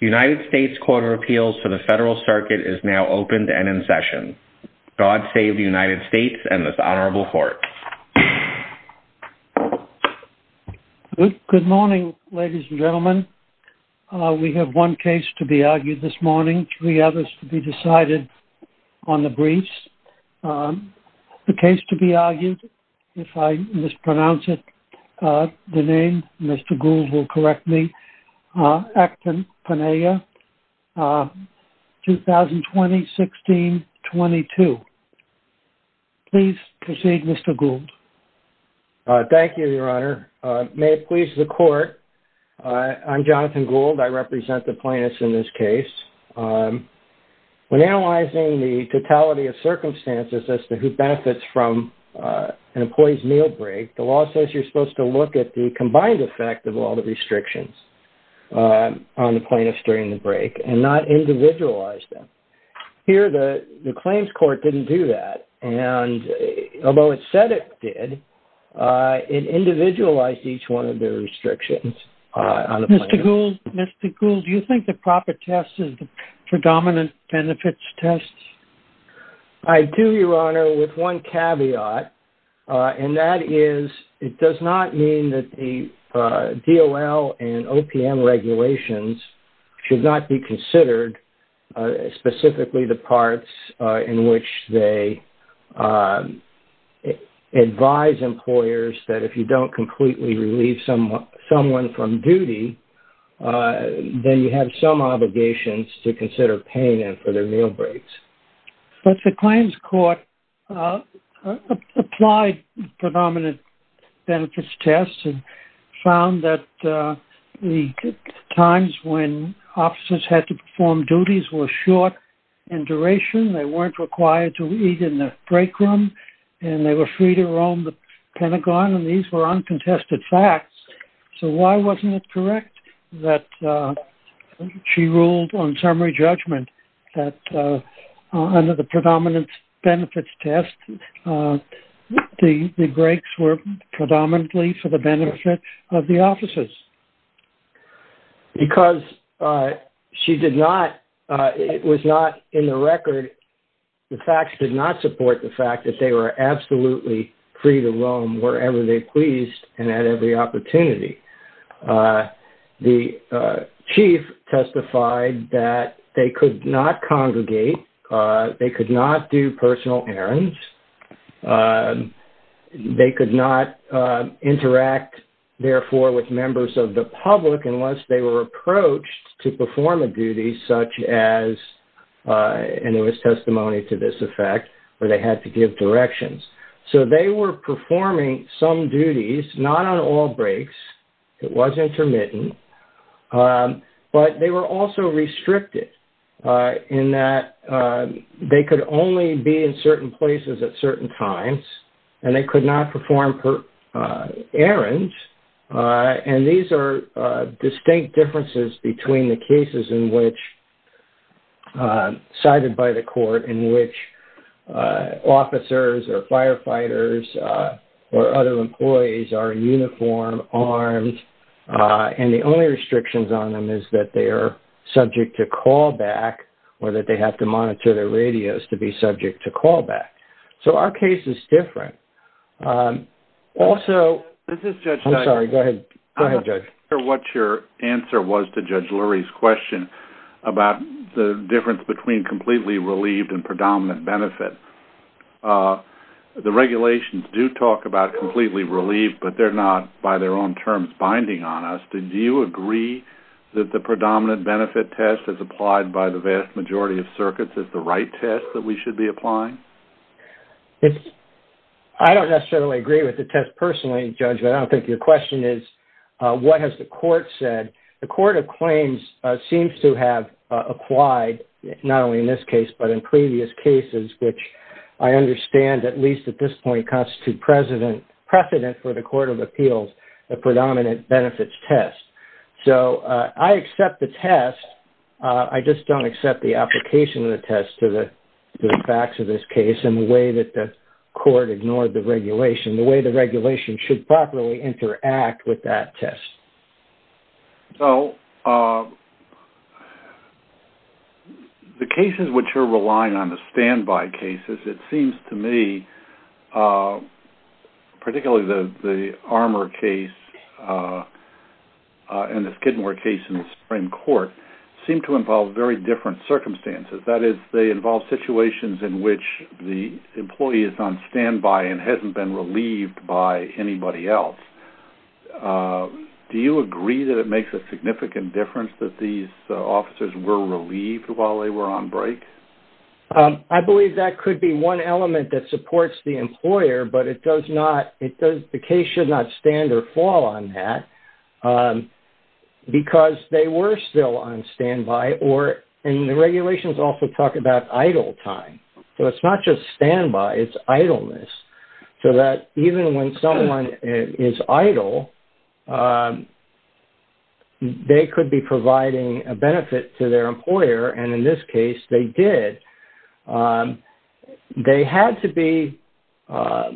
United States Court of Appeals for the Federal Circuit is now open and in session. God save the United States and this honorable court. Good morning, ladies and gentlemen. We have one case to be argued this morning, three others to be decided on the briefs. The case to be argued, if I mispronounce it, the name, Mr. Gould will correct me, Akpeneye, 2020-16-22. Please proceed, Mr. Gould. Thank you, your honor. May it please the court, I'm Jonathan Gould, I represent the plaintiffs in this case. When analyzing the totality of circumstances as to who benefits from an employee's meal break, the law says you're supposed to look at the combined effect of all the restrictions on the plaintiffs during the break and not individualize them. Here, the claims court didn't do that and although it said it did, it individualized each one of the restrictions on the plaintiff. Mr. Gould, do you think the proper test is the predominant benefits test? I do, your honor, with one caveat and that is, it does not mean that the DOL and OPM regulations should not be considered, specifically the parts in which they advise employers that if you don't completely relieve someone from duty, then you have some obligations to consider paying them for their meal breaks. But the claims court applied predominant benefits tests and found that the times when officers had to perform duties were short in duration, they weren't required to eat in the Pentagon and these were uncontested facts, so why wasn't it correct that she ruled on summary judgment that under the predominant benefits test, the breaks were predominantly for the benefit of the officers? Because she did not, it was not in the record, the facts did not support the fact that they were absolutely free to roam wherever they pleased and at every opportunity. The chief testified that they could not congregate, they could not do personal errands, they could not interact, therefore, with members of the public unless they were approached to perform a duty such as, and there was testimony to this effect, where they had to give directions. So they were performing some duties, not on all breaks, it was intermittent, but they were also restricted in that they could only be in certain places at between the cases in which, cited by the court, in which officers or firefighters or other employees are in uniform, armed, and the only restrictions on them is that they are subject to callback or that they have to monitor their radios to be subject to callback. So our case is different. Also, I'm sorry, go ahead, go ahead, Judge. What your answer was to Judge Lurie's question about the difference between completely relieved and predominant benefit. The regulations do talk about completely relieved, but they're not, by their own terms, binding on us. Do you agree that the predominant benefit test as applied by the vast majority of circuits is the right test that we should be applying? I don't necessarily agree with the test personally, Judge, but I don't think your question is what has the court said. The Court of Claims seems to have applied, not only in this case, but in previous cases, which I understand, at least at this point, constitute precedent for the Court of Appeals, a predominant benefits test. So I accept the test. I just don't accept the application of the test to the facts of this case and the way that the court ignored the regulation, the way the regulation should properly interact with that test. So the cases which are relying on the standby cases, it seems to me, particularly the Armour case and the Skidmore case in the Supreme Court, seem to involve very different circumstances. That is, they involve situations in which the employee is on standby and hasn't been relieved by anybody else. Do you agree that it makes a significant difference that these officers were relieved while they were on break? I believe that could be one element that supports the employer, but the case should not stand or fall on that because they were still on standby, and the regulations also talk about idle time. So it's not just standby, it's idleness. So that even when someone is idle, they could be providing a benefit to their employer, and in this case, they did. They had to be ever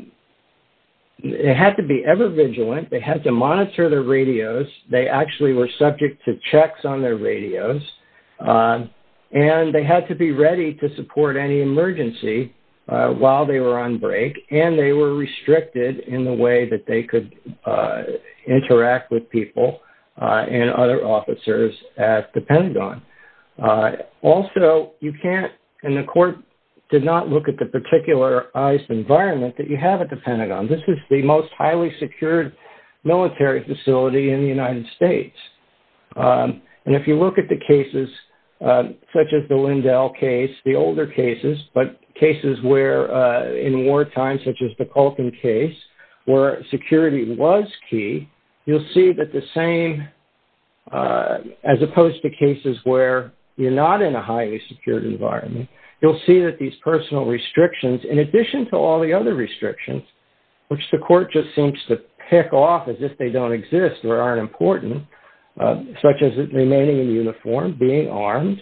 vigilant. They had to monitor their radios. They actually were subject to checks on their radios, and they had to be ready to support any emergency while they were on break, and they were restricted in the way that they could interact with people and other officers at the Pentagon. Also, you can't, and the court did not look at the particular ICE environment that you have at the Pentagon. This is the most highly secured military facility in the United States. And if you look at the cases, such as the Lindell case, the older cases, but cases where in wartime, such as the Culkin case, where security was key, you'll see that the same, as opposed to cases where you're not in a highly secured environment, you'll see that these personal restrictions, in addition to all the other restrictions, which the court just seems to pick off as if they don't exist or aren't important, such as remaining in uniform, being armed,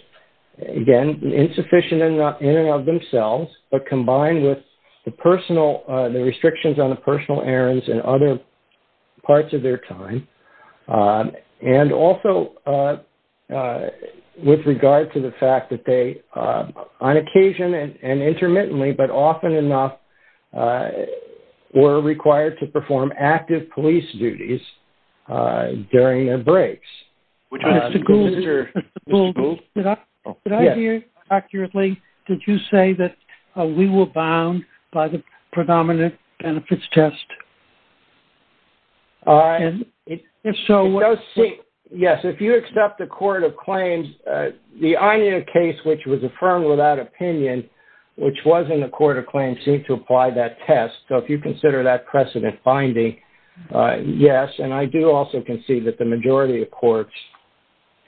again, insufficient in and of themselves, but combined with the restrictions on the personal errands and other parts of their time, and also with regard to the fact that they, on occasion and intermittently, but often enough, were required to perform active police duties during their breaks. Mr. Gould, did I hear you accurately? Did you say that we were bound by the predominant benefits test? And if so, what... It does seem... Yes, if you accept the court of claims, the Anya case, which was affirmed without test, so if you consider that precedent finding, yes, and I do also concede that the majority of courts,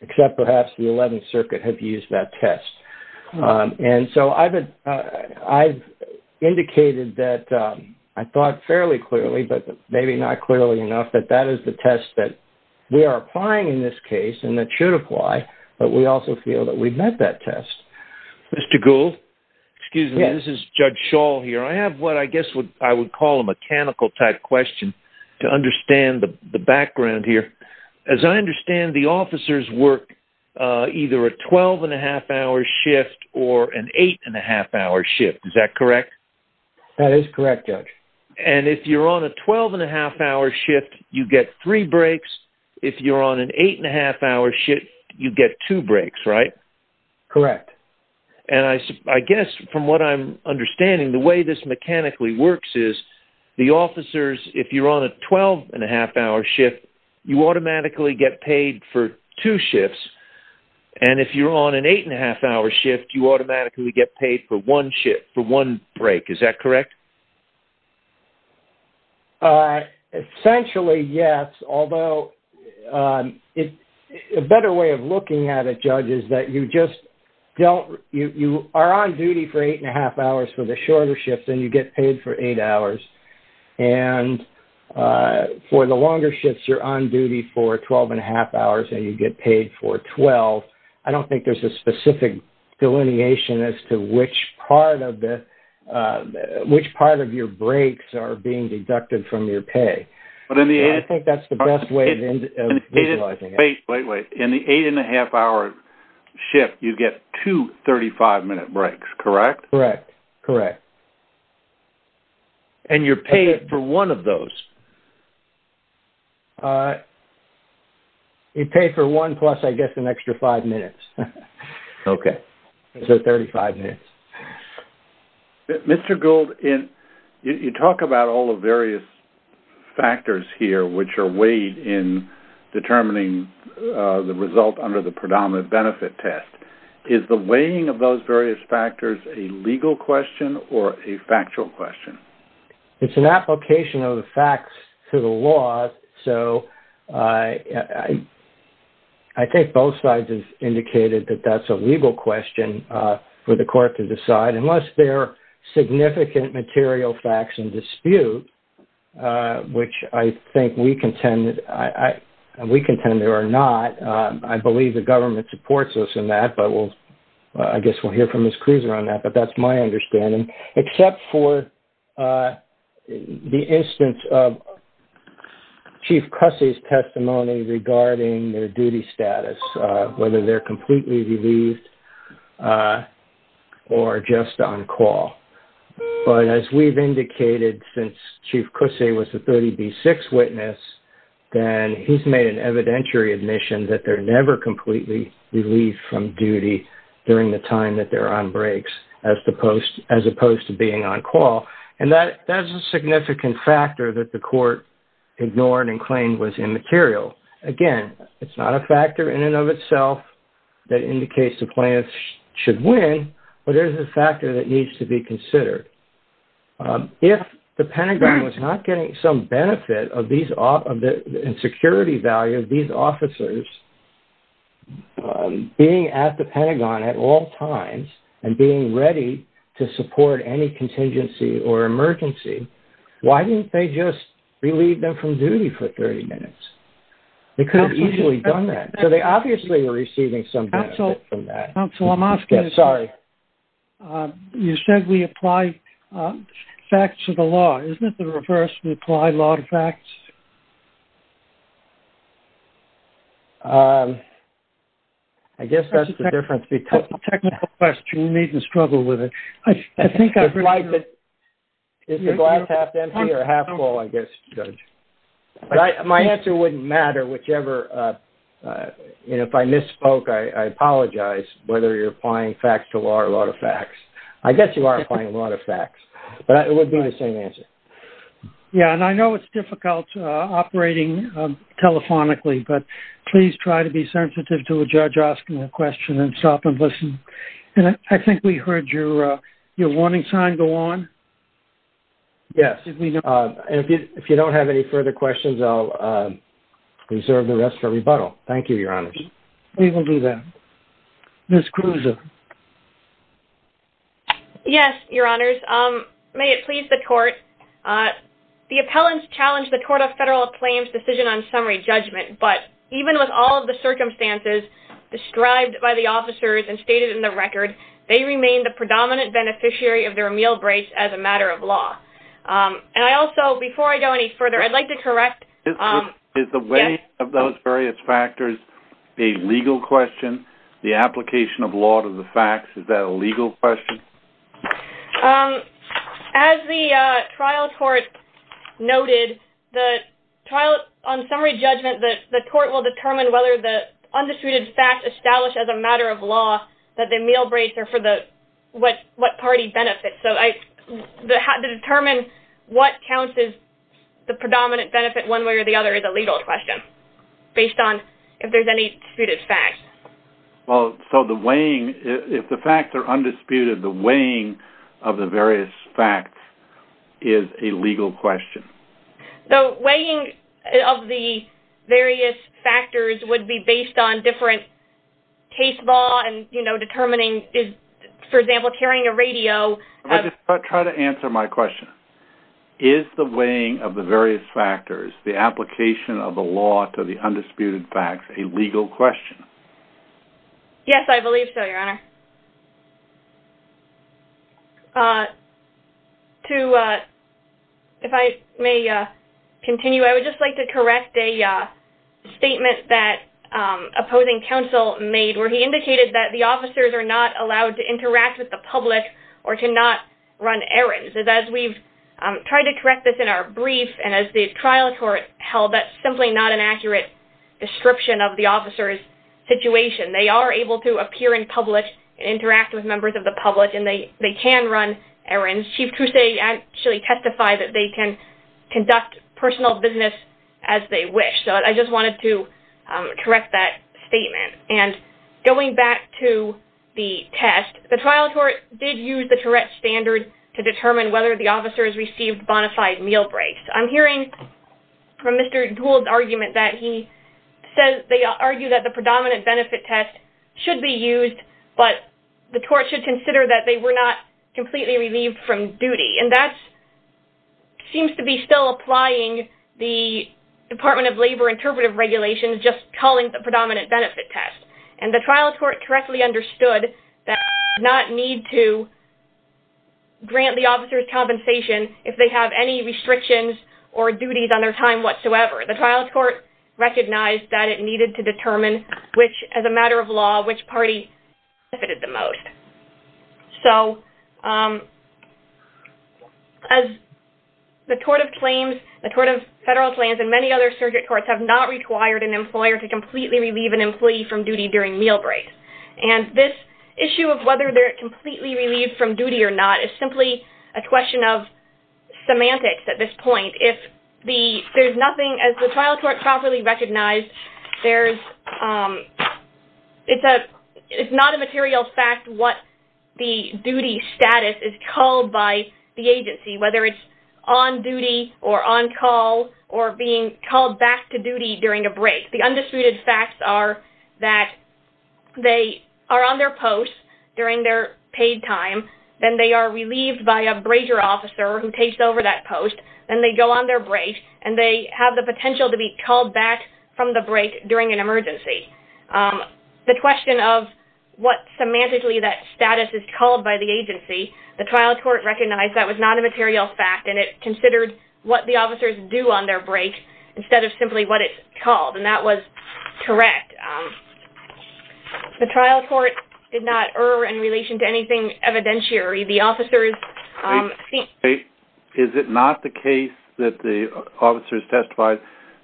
except perhaps the 11th Circuit, have used that test. And so I've indicated that, I thought fairly clearly, but maybe not clearly enough, that that is the test that we are applying in this case, and that should apply, but we also feel that we've met that test. Mr. Gould, excuse me, this is Judge Schall here. I have what I guess I would call a mechanical type question, to understand the background here. As I understand, the officers work either a 12-and-a-half-hour shift or an 8-and-a-half-hour shift, is that correct? That is correct, Judge. And if you're on a 12-and-a-half-hour shift, you get three breaks. If you're on an 8-and-a-half-hour shift, you get two breaks, right? Correct. And I guess, from what I'm understanding, the way this mechanically works is, the officers, if you're on a 12-and-a-half-hour shift, you automatically get paid for two shifts, and if you're on an 8-and-a-half-hour shift, you automatically get paid for one shift, for one break, is that correct? Essentially, yes, although, a better way of looking at it, Judge, is that you just don't, you are on duty for 8-and-a-half-hours for the shorter shifts, and you get paid for eight hours, and for the longer shifts, you're on duty for 12-and-a-half-hours, and you get paid for 12. I don't think there's a specific delineation as to which part of the, which part of your breaks are being deducted from your pay. But in the 8-and-a-half-hour shift, you get two 35-minute breaks, correct? Correct, correct. And you're paid for one of those? You pay for one, plus, I guess, an extra five minutes. Okay. So, 35 minutes. Mr. Gould, you talk about all the various factors here, which are weighed in determining the result under the predominant benefit test. Is the weighing of those various factors a legal question, or a factual question? It's an application of the facts to the law, so I think both sides have indicated that that's a legal question for the court to decide, unless there are significant material facts in dispute, which I think we contend there are not. I believe the government supports us in that, but we'll, I guess we'll hear from Ms. Cruiser on that, but that's my understanding. Except for the instance of Chief Cussey's testimony regarding their duty status, whether they're completely relieved or just on call. But as we've indicated, since Chief Cussey was the 30B6 witness, then he's made an evidentiary admission that they're never completely relieved from duty during the time that they're on breaks, as opposed to being on call. And that is a significant factor that the court ignored and claimed was immaterial. Again, it's not a factor in and of itself that indicates the plaintiff should win, but there's a factor that needs to be considered. If the Pentagon was not getting some benefit of these, and security value of these officers being at the Pentagon at all times, and being ready to support any contingency or emergency, why didn't they just relieve them from duty for 30 minutes? They could have easily done that. So they obviously were receiving some benefit from that. Counsel, I'm asking, you said we apply facts to the law. Isn't it the reverse? We apply law to facts? I guess that's the difference. That's a technical question. We needn't struggle with it. I think I'd like it. Is the glass half empty or half full, I guess, Judge? Right. My answer wouldn't matter, whichever. If I misspoke, I apologize, whether you're applying facts to law or law to facts. I guess you are applying law to facts, but it would be the same answer. Yeah. And I know it's difficult operating telephonically, but please try to be sensitive to a judge asking a question and stop and listen. And I think we heard your warning sign go on. Yes. And if you don't have any further questions, I'll reserve the rest for rebuttal. Thank you, Your Honors. We will do that. Ms. Kruse. Yes, Your Honors. May it please the court. The appellants challenged the Court of Federal Claims' decision on summary judgment. But even with all of the circumstances described by the officers and stated in the record, they remain the predominant beneficiary of their meal breaks as a matter of law. And I also, before I go any further, I'd like to correct. Is the weight of those various factors a legal question? The application of law to the facts, is that a legal question? As the trial court noted, on summary judgment, the court will determine whether the undisputed fact established as a matter of law that the meal breaks are for what party benefits. To determine what counts as the predominant benefit one way or the other is a legal question based on if there's any disputed facts. Well, so the weighing, if the facts are undisputed, the weighing of the various facts is a legal question. The weighing of the various factors would be based on different case law and, you know, is, for example, carrying a radio... Try to answer my question. Is the weighing of the various factors, the application of the law to the undisputed facts, a legal question? Yes, I believe so, Your Honor. If I may continue, I would just like to correct a statement that opposing counsel made where he indicated that the officers are not allowed to interact with the public or to not run errands. As we've tried to correct this in our brief, and as the trial court held, that's simply not an accurate description of the officer's situation. They are able to appear in public and interact with members of the public, and they can run errands. Chief Crusay actually testified that they can conduct personal business as they wish. So I just wanted to correct that statement. And going back to the test, the trial court did use the Tourette's standard to determine whether the officers received bonafide meal breaks. I'm hearing from Mr. Gould's argument that he says they argue that the predominant benefit test should be used, but the court should consider that they were not completely relieved from duty. And that seems to be still applying the Department of Labor interpretive regulations, just calling the predominant benefit test. And the trial court correctly understood that they did not need to grant the officers compensation if they have any restrictions or duties on their time whatsoever. The trial court recognized that it needed to determine which, as a matter of law, which party benefited the most. So as the tort of claims, the tort of federal claims, and many other surrogate courts have not required an employer to completely relieve an employee from duty during meal breaks. And this issue of whether they're completely relieved from duty or not is simply a question of semantics at this point. If there's nothing, as the trial court properly recognized, there's, it's not a material fact what the duty status is called by the agency, whether it's on duty or on call or being called back to duty during a break. The undisputed facts are that they are on their post during their paid time. Then they are relieved by a brazier officer who takes over that post. Then they go on their break, and they have the potential to be called back from the break during an emergency. The question of what semantically that status is called by the agency, the trial court recognized that was not a material fact, and it considered what the officers do on their break instead of simply what it's called. And that was correct. The trial court did not err in relation to anything evidentiary. The officers... Is it not the case that the officers testified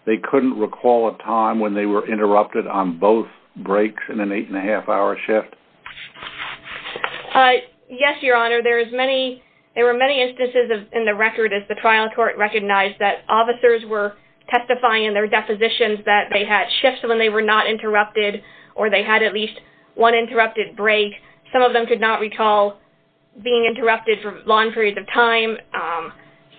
they couldn't recall a time when they were interrupted on both breaks in an eight and a half hour shift? Yes, Your Honor. There is many, there were many instances in the record as the trial court recognized that in their depositions that they had shifts when they were not interrupted, or they had at least one interrupted break. Some of them could not recall being interrupted for long periods of time.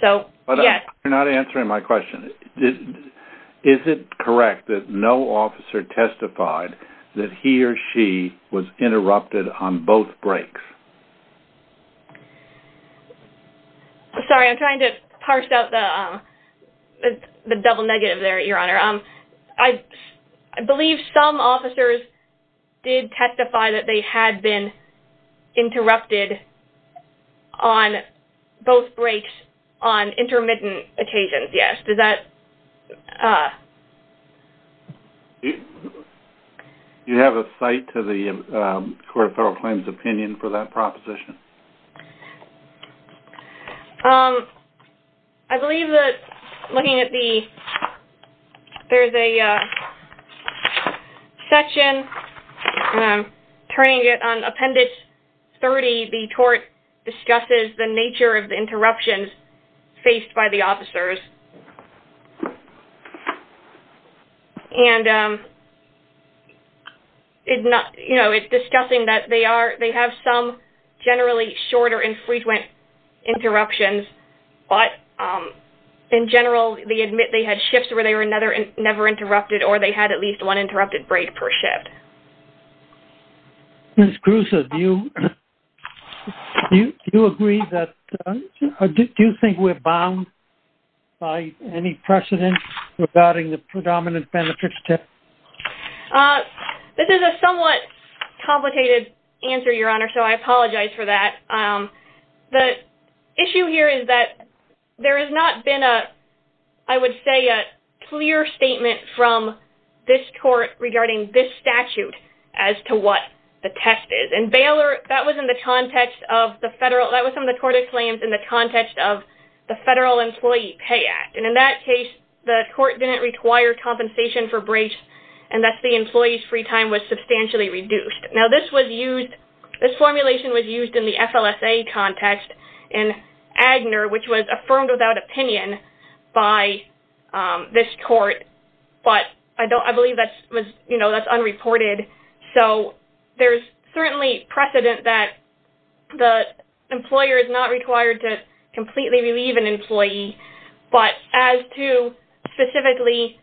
So, yes. But you're not answering my question. Is it correct that no officer testified that he or she was interrupted on both breaks? Sorry, I'm trying to parse out the double negative there, Your Honor. I believe some officers did testify that they had been interrupted on both breaks on intermittent occasions, yes. Does that... Do you have a cite to the Court of Federal Claims opinion for that? Proposition. I believe that, looking at the, there's a section, and I'm turning it on Appendix 30, the tort discusses the nature of the interruptions faced by the officers. And, you know, it's discussing that they have some generally shorter and frequent interruptions, but in general, they admit they had shifts where they were never interrupted, or they had at least one interrupted break per shift. Ms. Cruz, do you agree that, or do you think we're bound by the statute of limitations by any precedent regarding the predominant benefits? This is a somewhat complicated answer, Your Honor, so I apologize for that. The issue here is that there has not been a, I would say, a clear statement from this court regarding this statute as to what the test is. And Baylor, that was in the context of the federal, that was from the Court of Claims in the context of the Federal Employee Pay Act. And in that case, the court didn't require compensation for breaks, and thus the employee's free time was substantially reduced. Now, this was used, this formulation was used in the FLSA context in Agner, which was affirmed without opinion by this court, but I believe that's, you know, that's unreported. So, there's certainly precedent that the employer is not required to completely relieve an employee, but as to specifically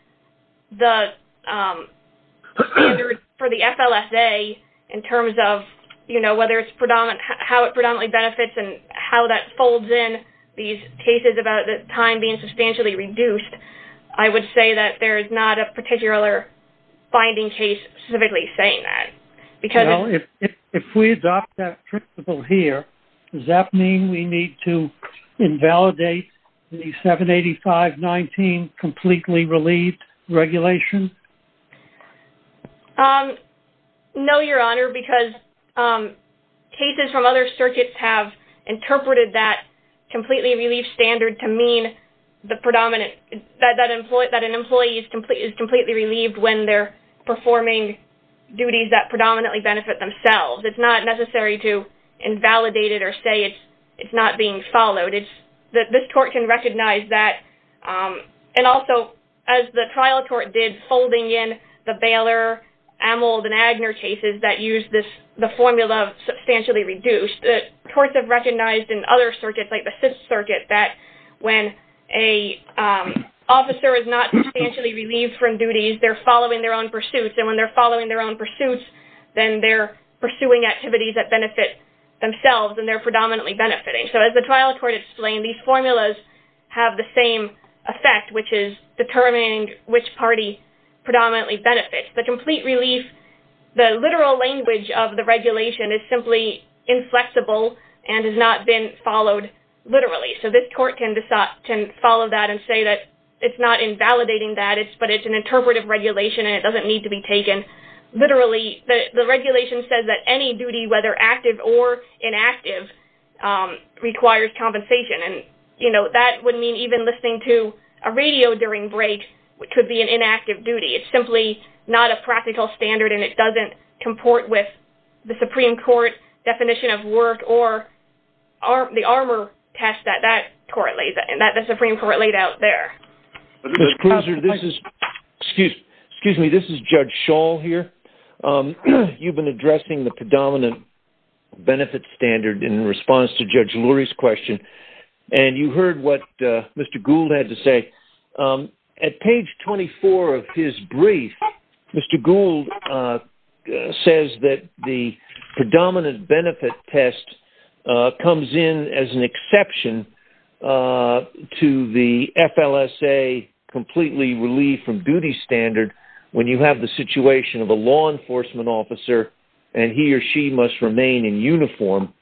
the, for the FLSA in terms of, you know, whether it's predominant, how it predominantly benefits and how that folds in these cases about the time being substantially reduced, I would say that there is not a particular finding case specifically saying that, because... Well, if we adopt that principle here, does that mean we need to invalidate the 785-19 completely relieved regulation? No, Your Honor, because cases from other circuits have interpreted that completely relieved standard to mean the predominant, that an employee is completely relieved when they're performing duties that predominantly benefit themselves. It's not necessary to invalidate it or say it's not being followed. It's that this court can recognize that, and also as the trial court did, folding in the Baylor, Amold, and Agner cases that use this, the formula of substantially reduced, courts have recognized in other circuits, like the Fifth Circuit, that when an officer is not substantially relieved from duties, they're following their own pursuits, and when they're following their own pursuits, then they're pursuing activities that benefit themselves and they're predominantly benefiting. So as the trial court explained, these formulas have the same effect, which is determining which party predominantly benefits. The complete relief, the literal language of the regulation is simply inflexible and has not been followed literally. So this court can follow that and say that it's not invalidating that, but it's an interpretive regulation and it doesn't need to be taken literally. The regulation says that any duty, whether active or inactive, requires compensation, and that would mean even listening to a radio during break could be an inactive duty. It's simply not a practical standard and it doesn't comport with the Supreme Court definition of work or the armor test that the Supreme Court laid out there. Excuse me, this is Judge Schall here. You've been addressing the predominant benefit standard in response to Judge Lurie's question, and you heard what Mr. Gould had to say. At page 24 of his brief, Mr. Gould says that the predominant benefit test comes in as an exception to the FLSA completely relief from duty standard when you have the situation of a law enforcement officer and he or she must remain in uniform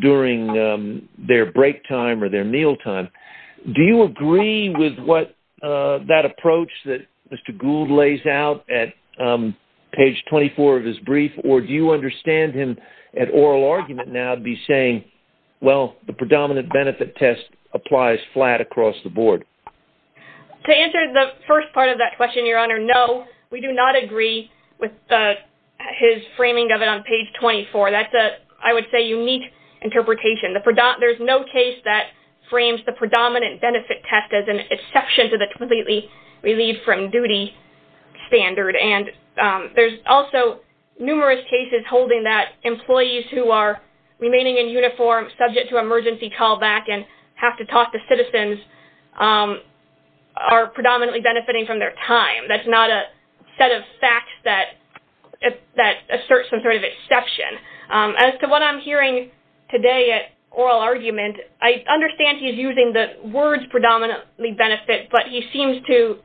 during their break time or their meal time. Do you agree with what that approach that Mr. Gould lays out at page 24 of his brief, or do you understand him at oral argument now to be saying, well, the predominant benefit test applies flat across the board? To answer the first part of that question, Your Honor, no, we do not agree with his framing of it on page 24. That's a, I would say, unique interpretation. There's no case that frames the predominant benefit test as an exception to the completely relief from duty standard. And there's also numerous cases holding that employees who are remaining in uniform subject to emergency callback and have to talk to citizens are predominantly benefiting from their time. That's not a set of facts that asserts some sort of exception. As to what I'm hearing today at oral argument, I understand he's using the words predominantly benefit, but he seems to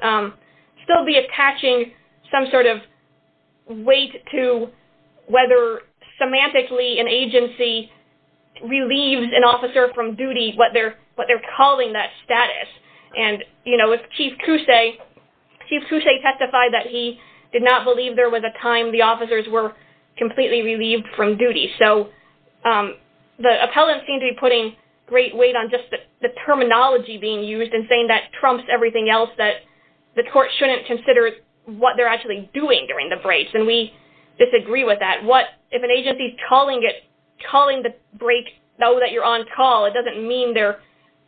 still be attaching some sort of weight to whether semantically an agency relieves an officer from duty, what they're calling that status. And, you know, if Chief Couset testified that he did not believe there was a time the officers were completely relieved from duty. So the appellant seemed to be putting great weight on just the terminology being used and saying that trumps everything else, that the court shouldn't consider what they're actually doing during the breaks. And we disagree with that. What, if an agency's calling it, calling the break though that you're on call, it doesn't mean they're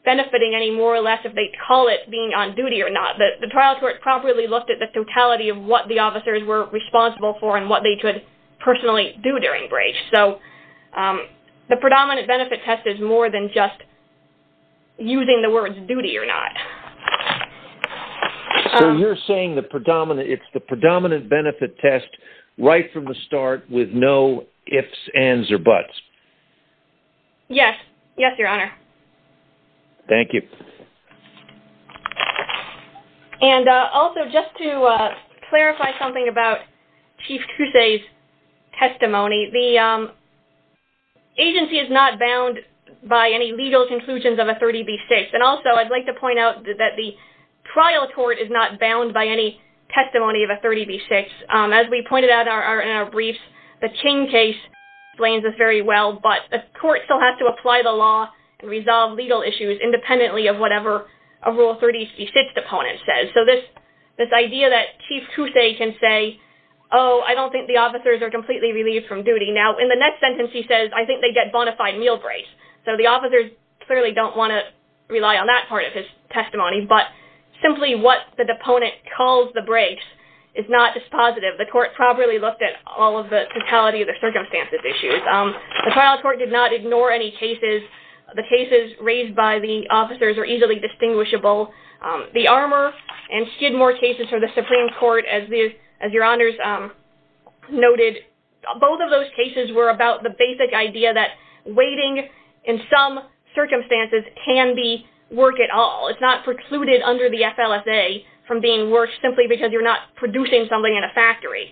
benefiting any more or less if they call it being on duty or not. The trial court properly looked at the totality of what the officers were responsible for and what they could personally do during breaks. So the predominant benefit test is more than just using the words duty or not. So you're saying the predominant, it's the predominant benefit test right from the start with no ifs, ands, or buts. Yes. Yes, Your Honor. Thank you. And also just to clarify something about Chief Couset's testimony, the agency is not bound by any legal conclusions of a 30B6. And also I'd like to point out that the trial court is not bound by any testimony of a 30B6. As we pointed out in our briefs, the King case explains this very well, but the court still has to apply the law and resolve legal issues independently of what the agency is of Rule 30B6 deponent says. So this idea that Chief Couset can say, oh, I don't think the officers are completely relieved from duty. Now, in the next sentence, he says, I think they get bona fide meal breaks. So the officers clearly don't want to rely on that part of his testimony. But simply what the deponent calls the breaks is not dispositive. The court properly looked at all of the totality of the circumstances issues. The trial court did not ignore any cases. The cases raised by the officers are easily distinguishable. The Armour and Skidmore cases for the Supreme Court, as your honors noted, both of those cases were about the basic idea that waiting in some circumstances can be work at all. It's not precluded under the FLSA from being work simply because you're not producing something in a factory.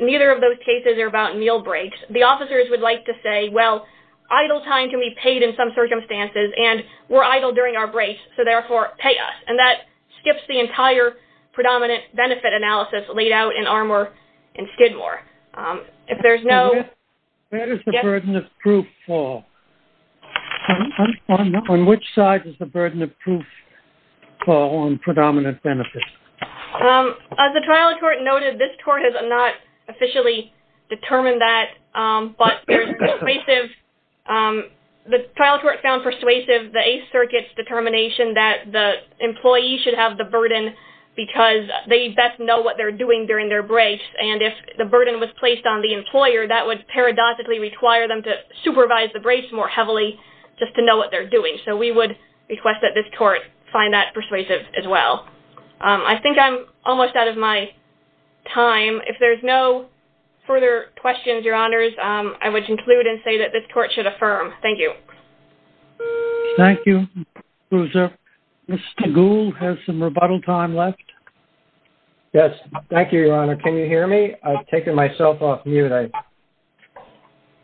Neither of those cases are about meal breaks. The officers would like to say, well, idle time can be paid in some circumstances. And we're idle during our breaks. So therefore, pay us. And that skips the entire predominant benefit analysis laid out in Armour and Skidmore. If there's no- Where does the burden of proof fall? On which side does the burden of proof fall on predominant benefits? As the trial court noted, this court has not officially determined that. But the trial court found persuasive the Eighth Circuit's determination that the employee should have the burden because they best know what they're doing during their breaks. And if the burden was placed on the employer, that would paradoxically require them to supervise the breaks more heavily just to know what they're doing. So we would request that this court find that persuasive as well. I think I'm almost out of my time. If there's no further questions, Your Honors, I would conclude and say that this court should affirm. Thank you. Thank you. Mr. Gould, has some rebuttal time left? Yes. Thank you, Your Honor. Can you hear me? I've taken myself off mute.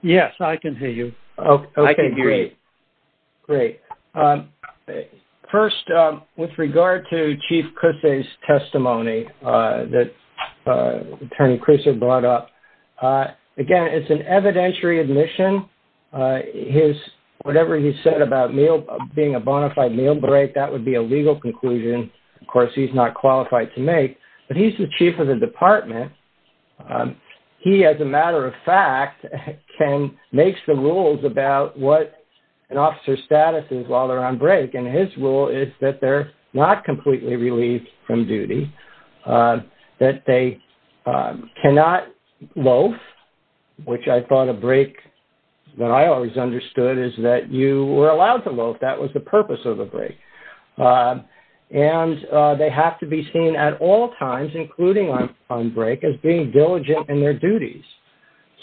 Yes, I can hear you. Okay, great. Great. First, with regard to Chief Kruse's testimony that Attorney Kruse brought up. Again, it's an evidentiary admission. Whatever he said about being a bona fide meal break, that would be a legal conclusion. Of course, he's not qualified to make. But he's the chief of the department. And he, as a matter of fact, can make some rules about what an officer's status is while they're on break. And his rule is that they're not completely relieved from duty, that they cannot loaf, which I thought a break that I always understood is that you were allowed to loaf. That was the purpose of a break. And they have to be seen at all times, including on break, as being diligent in their duties.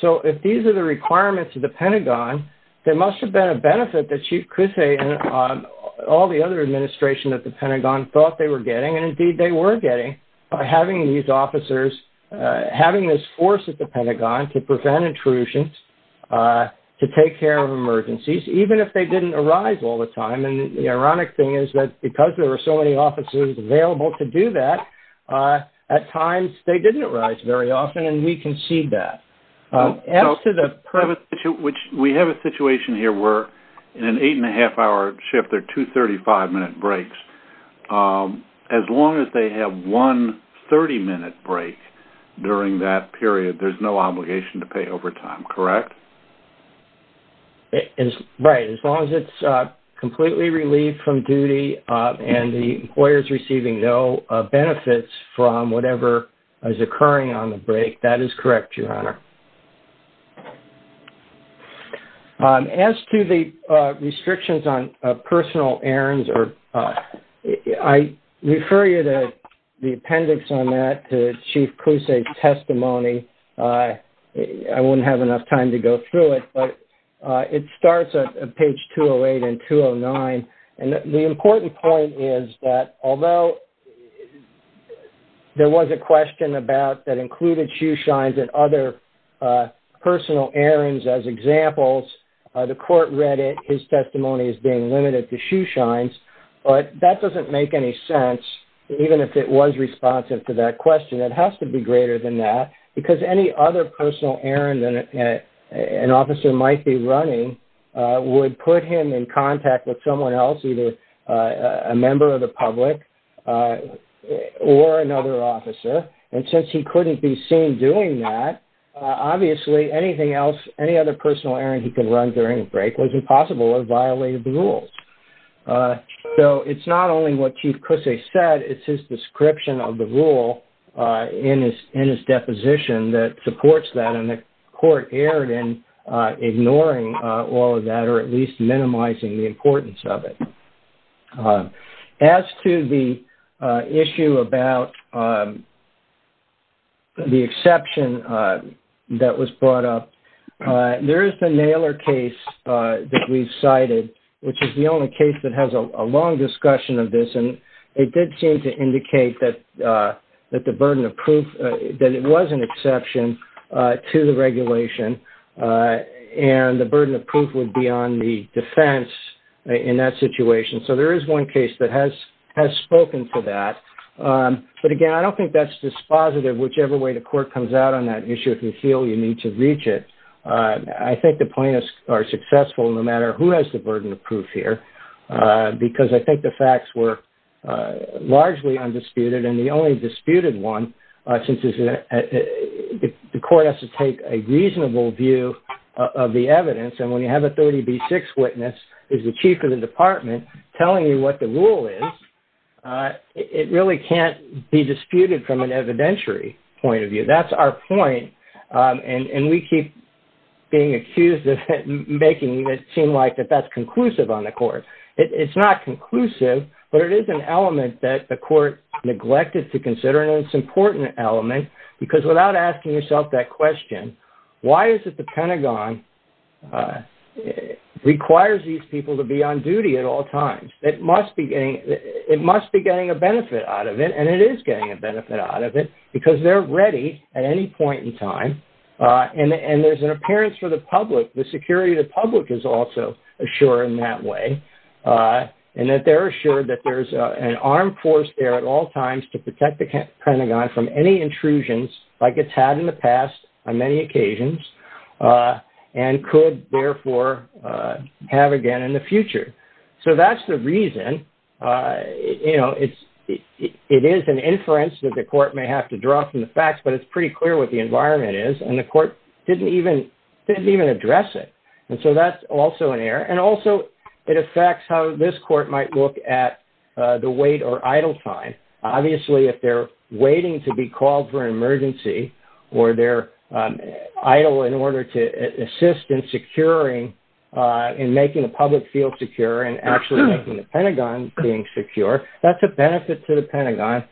So if these are the requirements of the Pentagon, there must have been a benefit that Chief Kruse and all the other administration that the Pentagon thought they were getting. And indeed, they were getting by having these officers, having this force at the Pentagon to prevent intrusions, to take care of emergencies, even if they didn't arise all the time. And the ironic thing is that because there were so many officers available to do that, at times, they didn't arise very often. And we can see that. We have a situation here where in an eight and a half hour shift, they're two 35-minute breaks. As long as they have one 30-minute break during that period, there's no obligation to pay overtime, correct? Right. As long as it's completely relieved from duty and the employer's receiving no benefits from whatever is occurring on the break, that is correct, Your Honor. As to the restrictions on personal errands, I refer you to the appendix on that, to Chief Kruse's testimony. I wouldn't have enough time to go through it. But it starts at page 208 and 209. And the important point is that although there was a question about that included shoe shines and other personal errands as examples, the court read it. His testimony is being limited to shoe shines. But that doesn't make any sense, even if it was responsive to that question. It has to be greater than that. Because any other personal errand that an officer might be running would put him in contact with someone else, either a member of the public or another officer. And since he couldn't be seen doing that, obviously anything else, any other personal errand he could run during a break was impossible or violated the rules. So it's not only what Chief Kruse said. It's his description of the rule in his deposition that supports that. And the court erred in ignoring all of that or at least minimizing the importance of it. As to the issue about the exception that was brought up, there is the Naylor case that which is the only case that has a long discussion of this. And it did seem to indicate that it was an exception to the regulation. And the burden of proof would be on the defense in that situation. So there is one case that has spoken to that. But again, I don't think that's dispositive. Whichever way the court comes out on that issue, if you feel you need to reach it, I think the plaintiffs are successful no matter who has the burden of proof here. Because I think the facts were largely undisputed. And the only disputed one, since the court has to take a reasonable view of the evidence. And when you have a 30B6 witness as the chief of the department telling you what the rule is, it really can't be disputed from an evidentiary point of view. That's our point. And we keep being accused of making it seem like that that's conclusive on the court. It's not conclusive. But it is an element that the court neglected to consider. And it's an important element. Because without asking yourself that question, why is it the Pentagon requires these people to be on duty at all times? It must be getting a benefit out of it. And it is getting a benefit out of it. Because they're ready at any point in time. And there's an appearance for the public, the security of the public is also assured in that way. And that they're assured that there's an armed force there at all times to protect the Pentagon from any intrusions, like it's had in the past on many occasions, and could therefore have again in the future. So that's the reason. It is an inference that the court may have to draw from the facts, but it's pretty clear what the environment is. And the court didn't even address it. And so that's also an error. And also, it affects how this court might look at the wait or idle time. Obviously, if they're waiting to be called for an emergency, or they're idle in order to assist in securing, in making the public feel secure and actually making the Pentagon being secure, that's a benefit to the Pentagon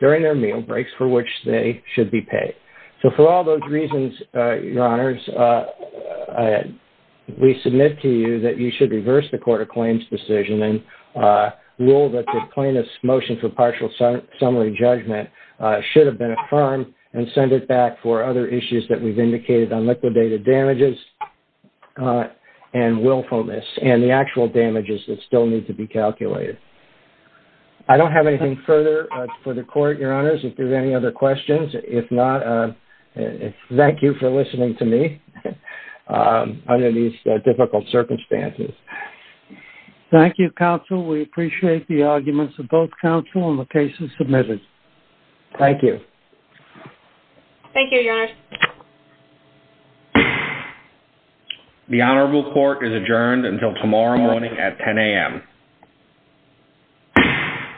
during their meal breaks for which they should be paid. So for all those reasons, your honors, we submit to you that you should reverse the court of claims decision and rule that the plaintiff's motion for partial summary judgment should have been affirmed and send it back for other issues that we've indicated on liquidated damages and willfulness, and the actual damages that still need to be calculated. I don't have anything further for the court, your honors, if there's any other questions. If not, thank you for listening to me under these difficult circumstances. Thank you, counsel. We appreciate the arguments of both counsel in the cases submitted. Thank you. Thank you, your honors. The honorable court is adjourned until tomorrow morning at 10 a.m.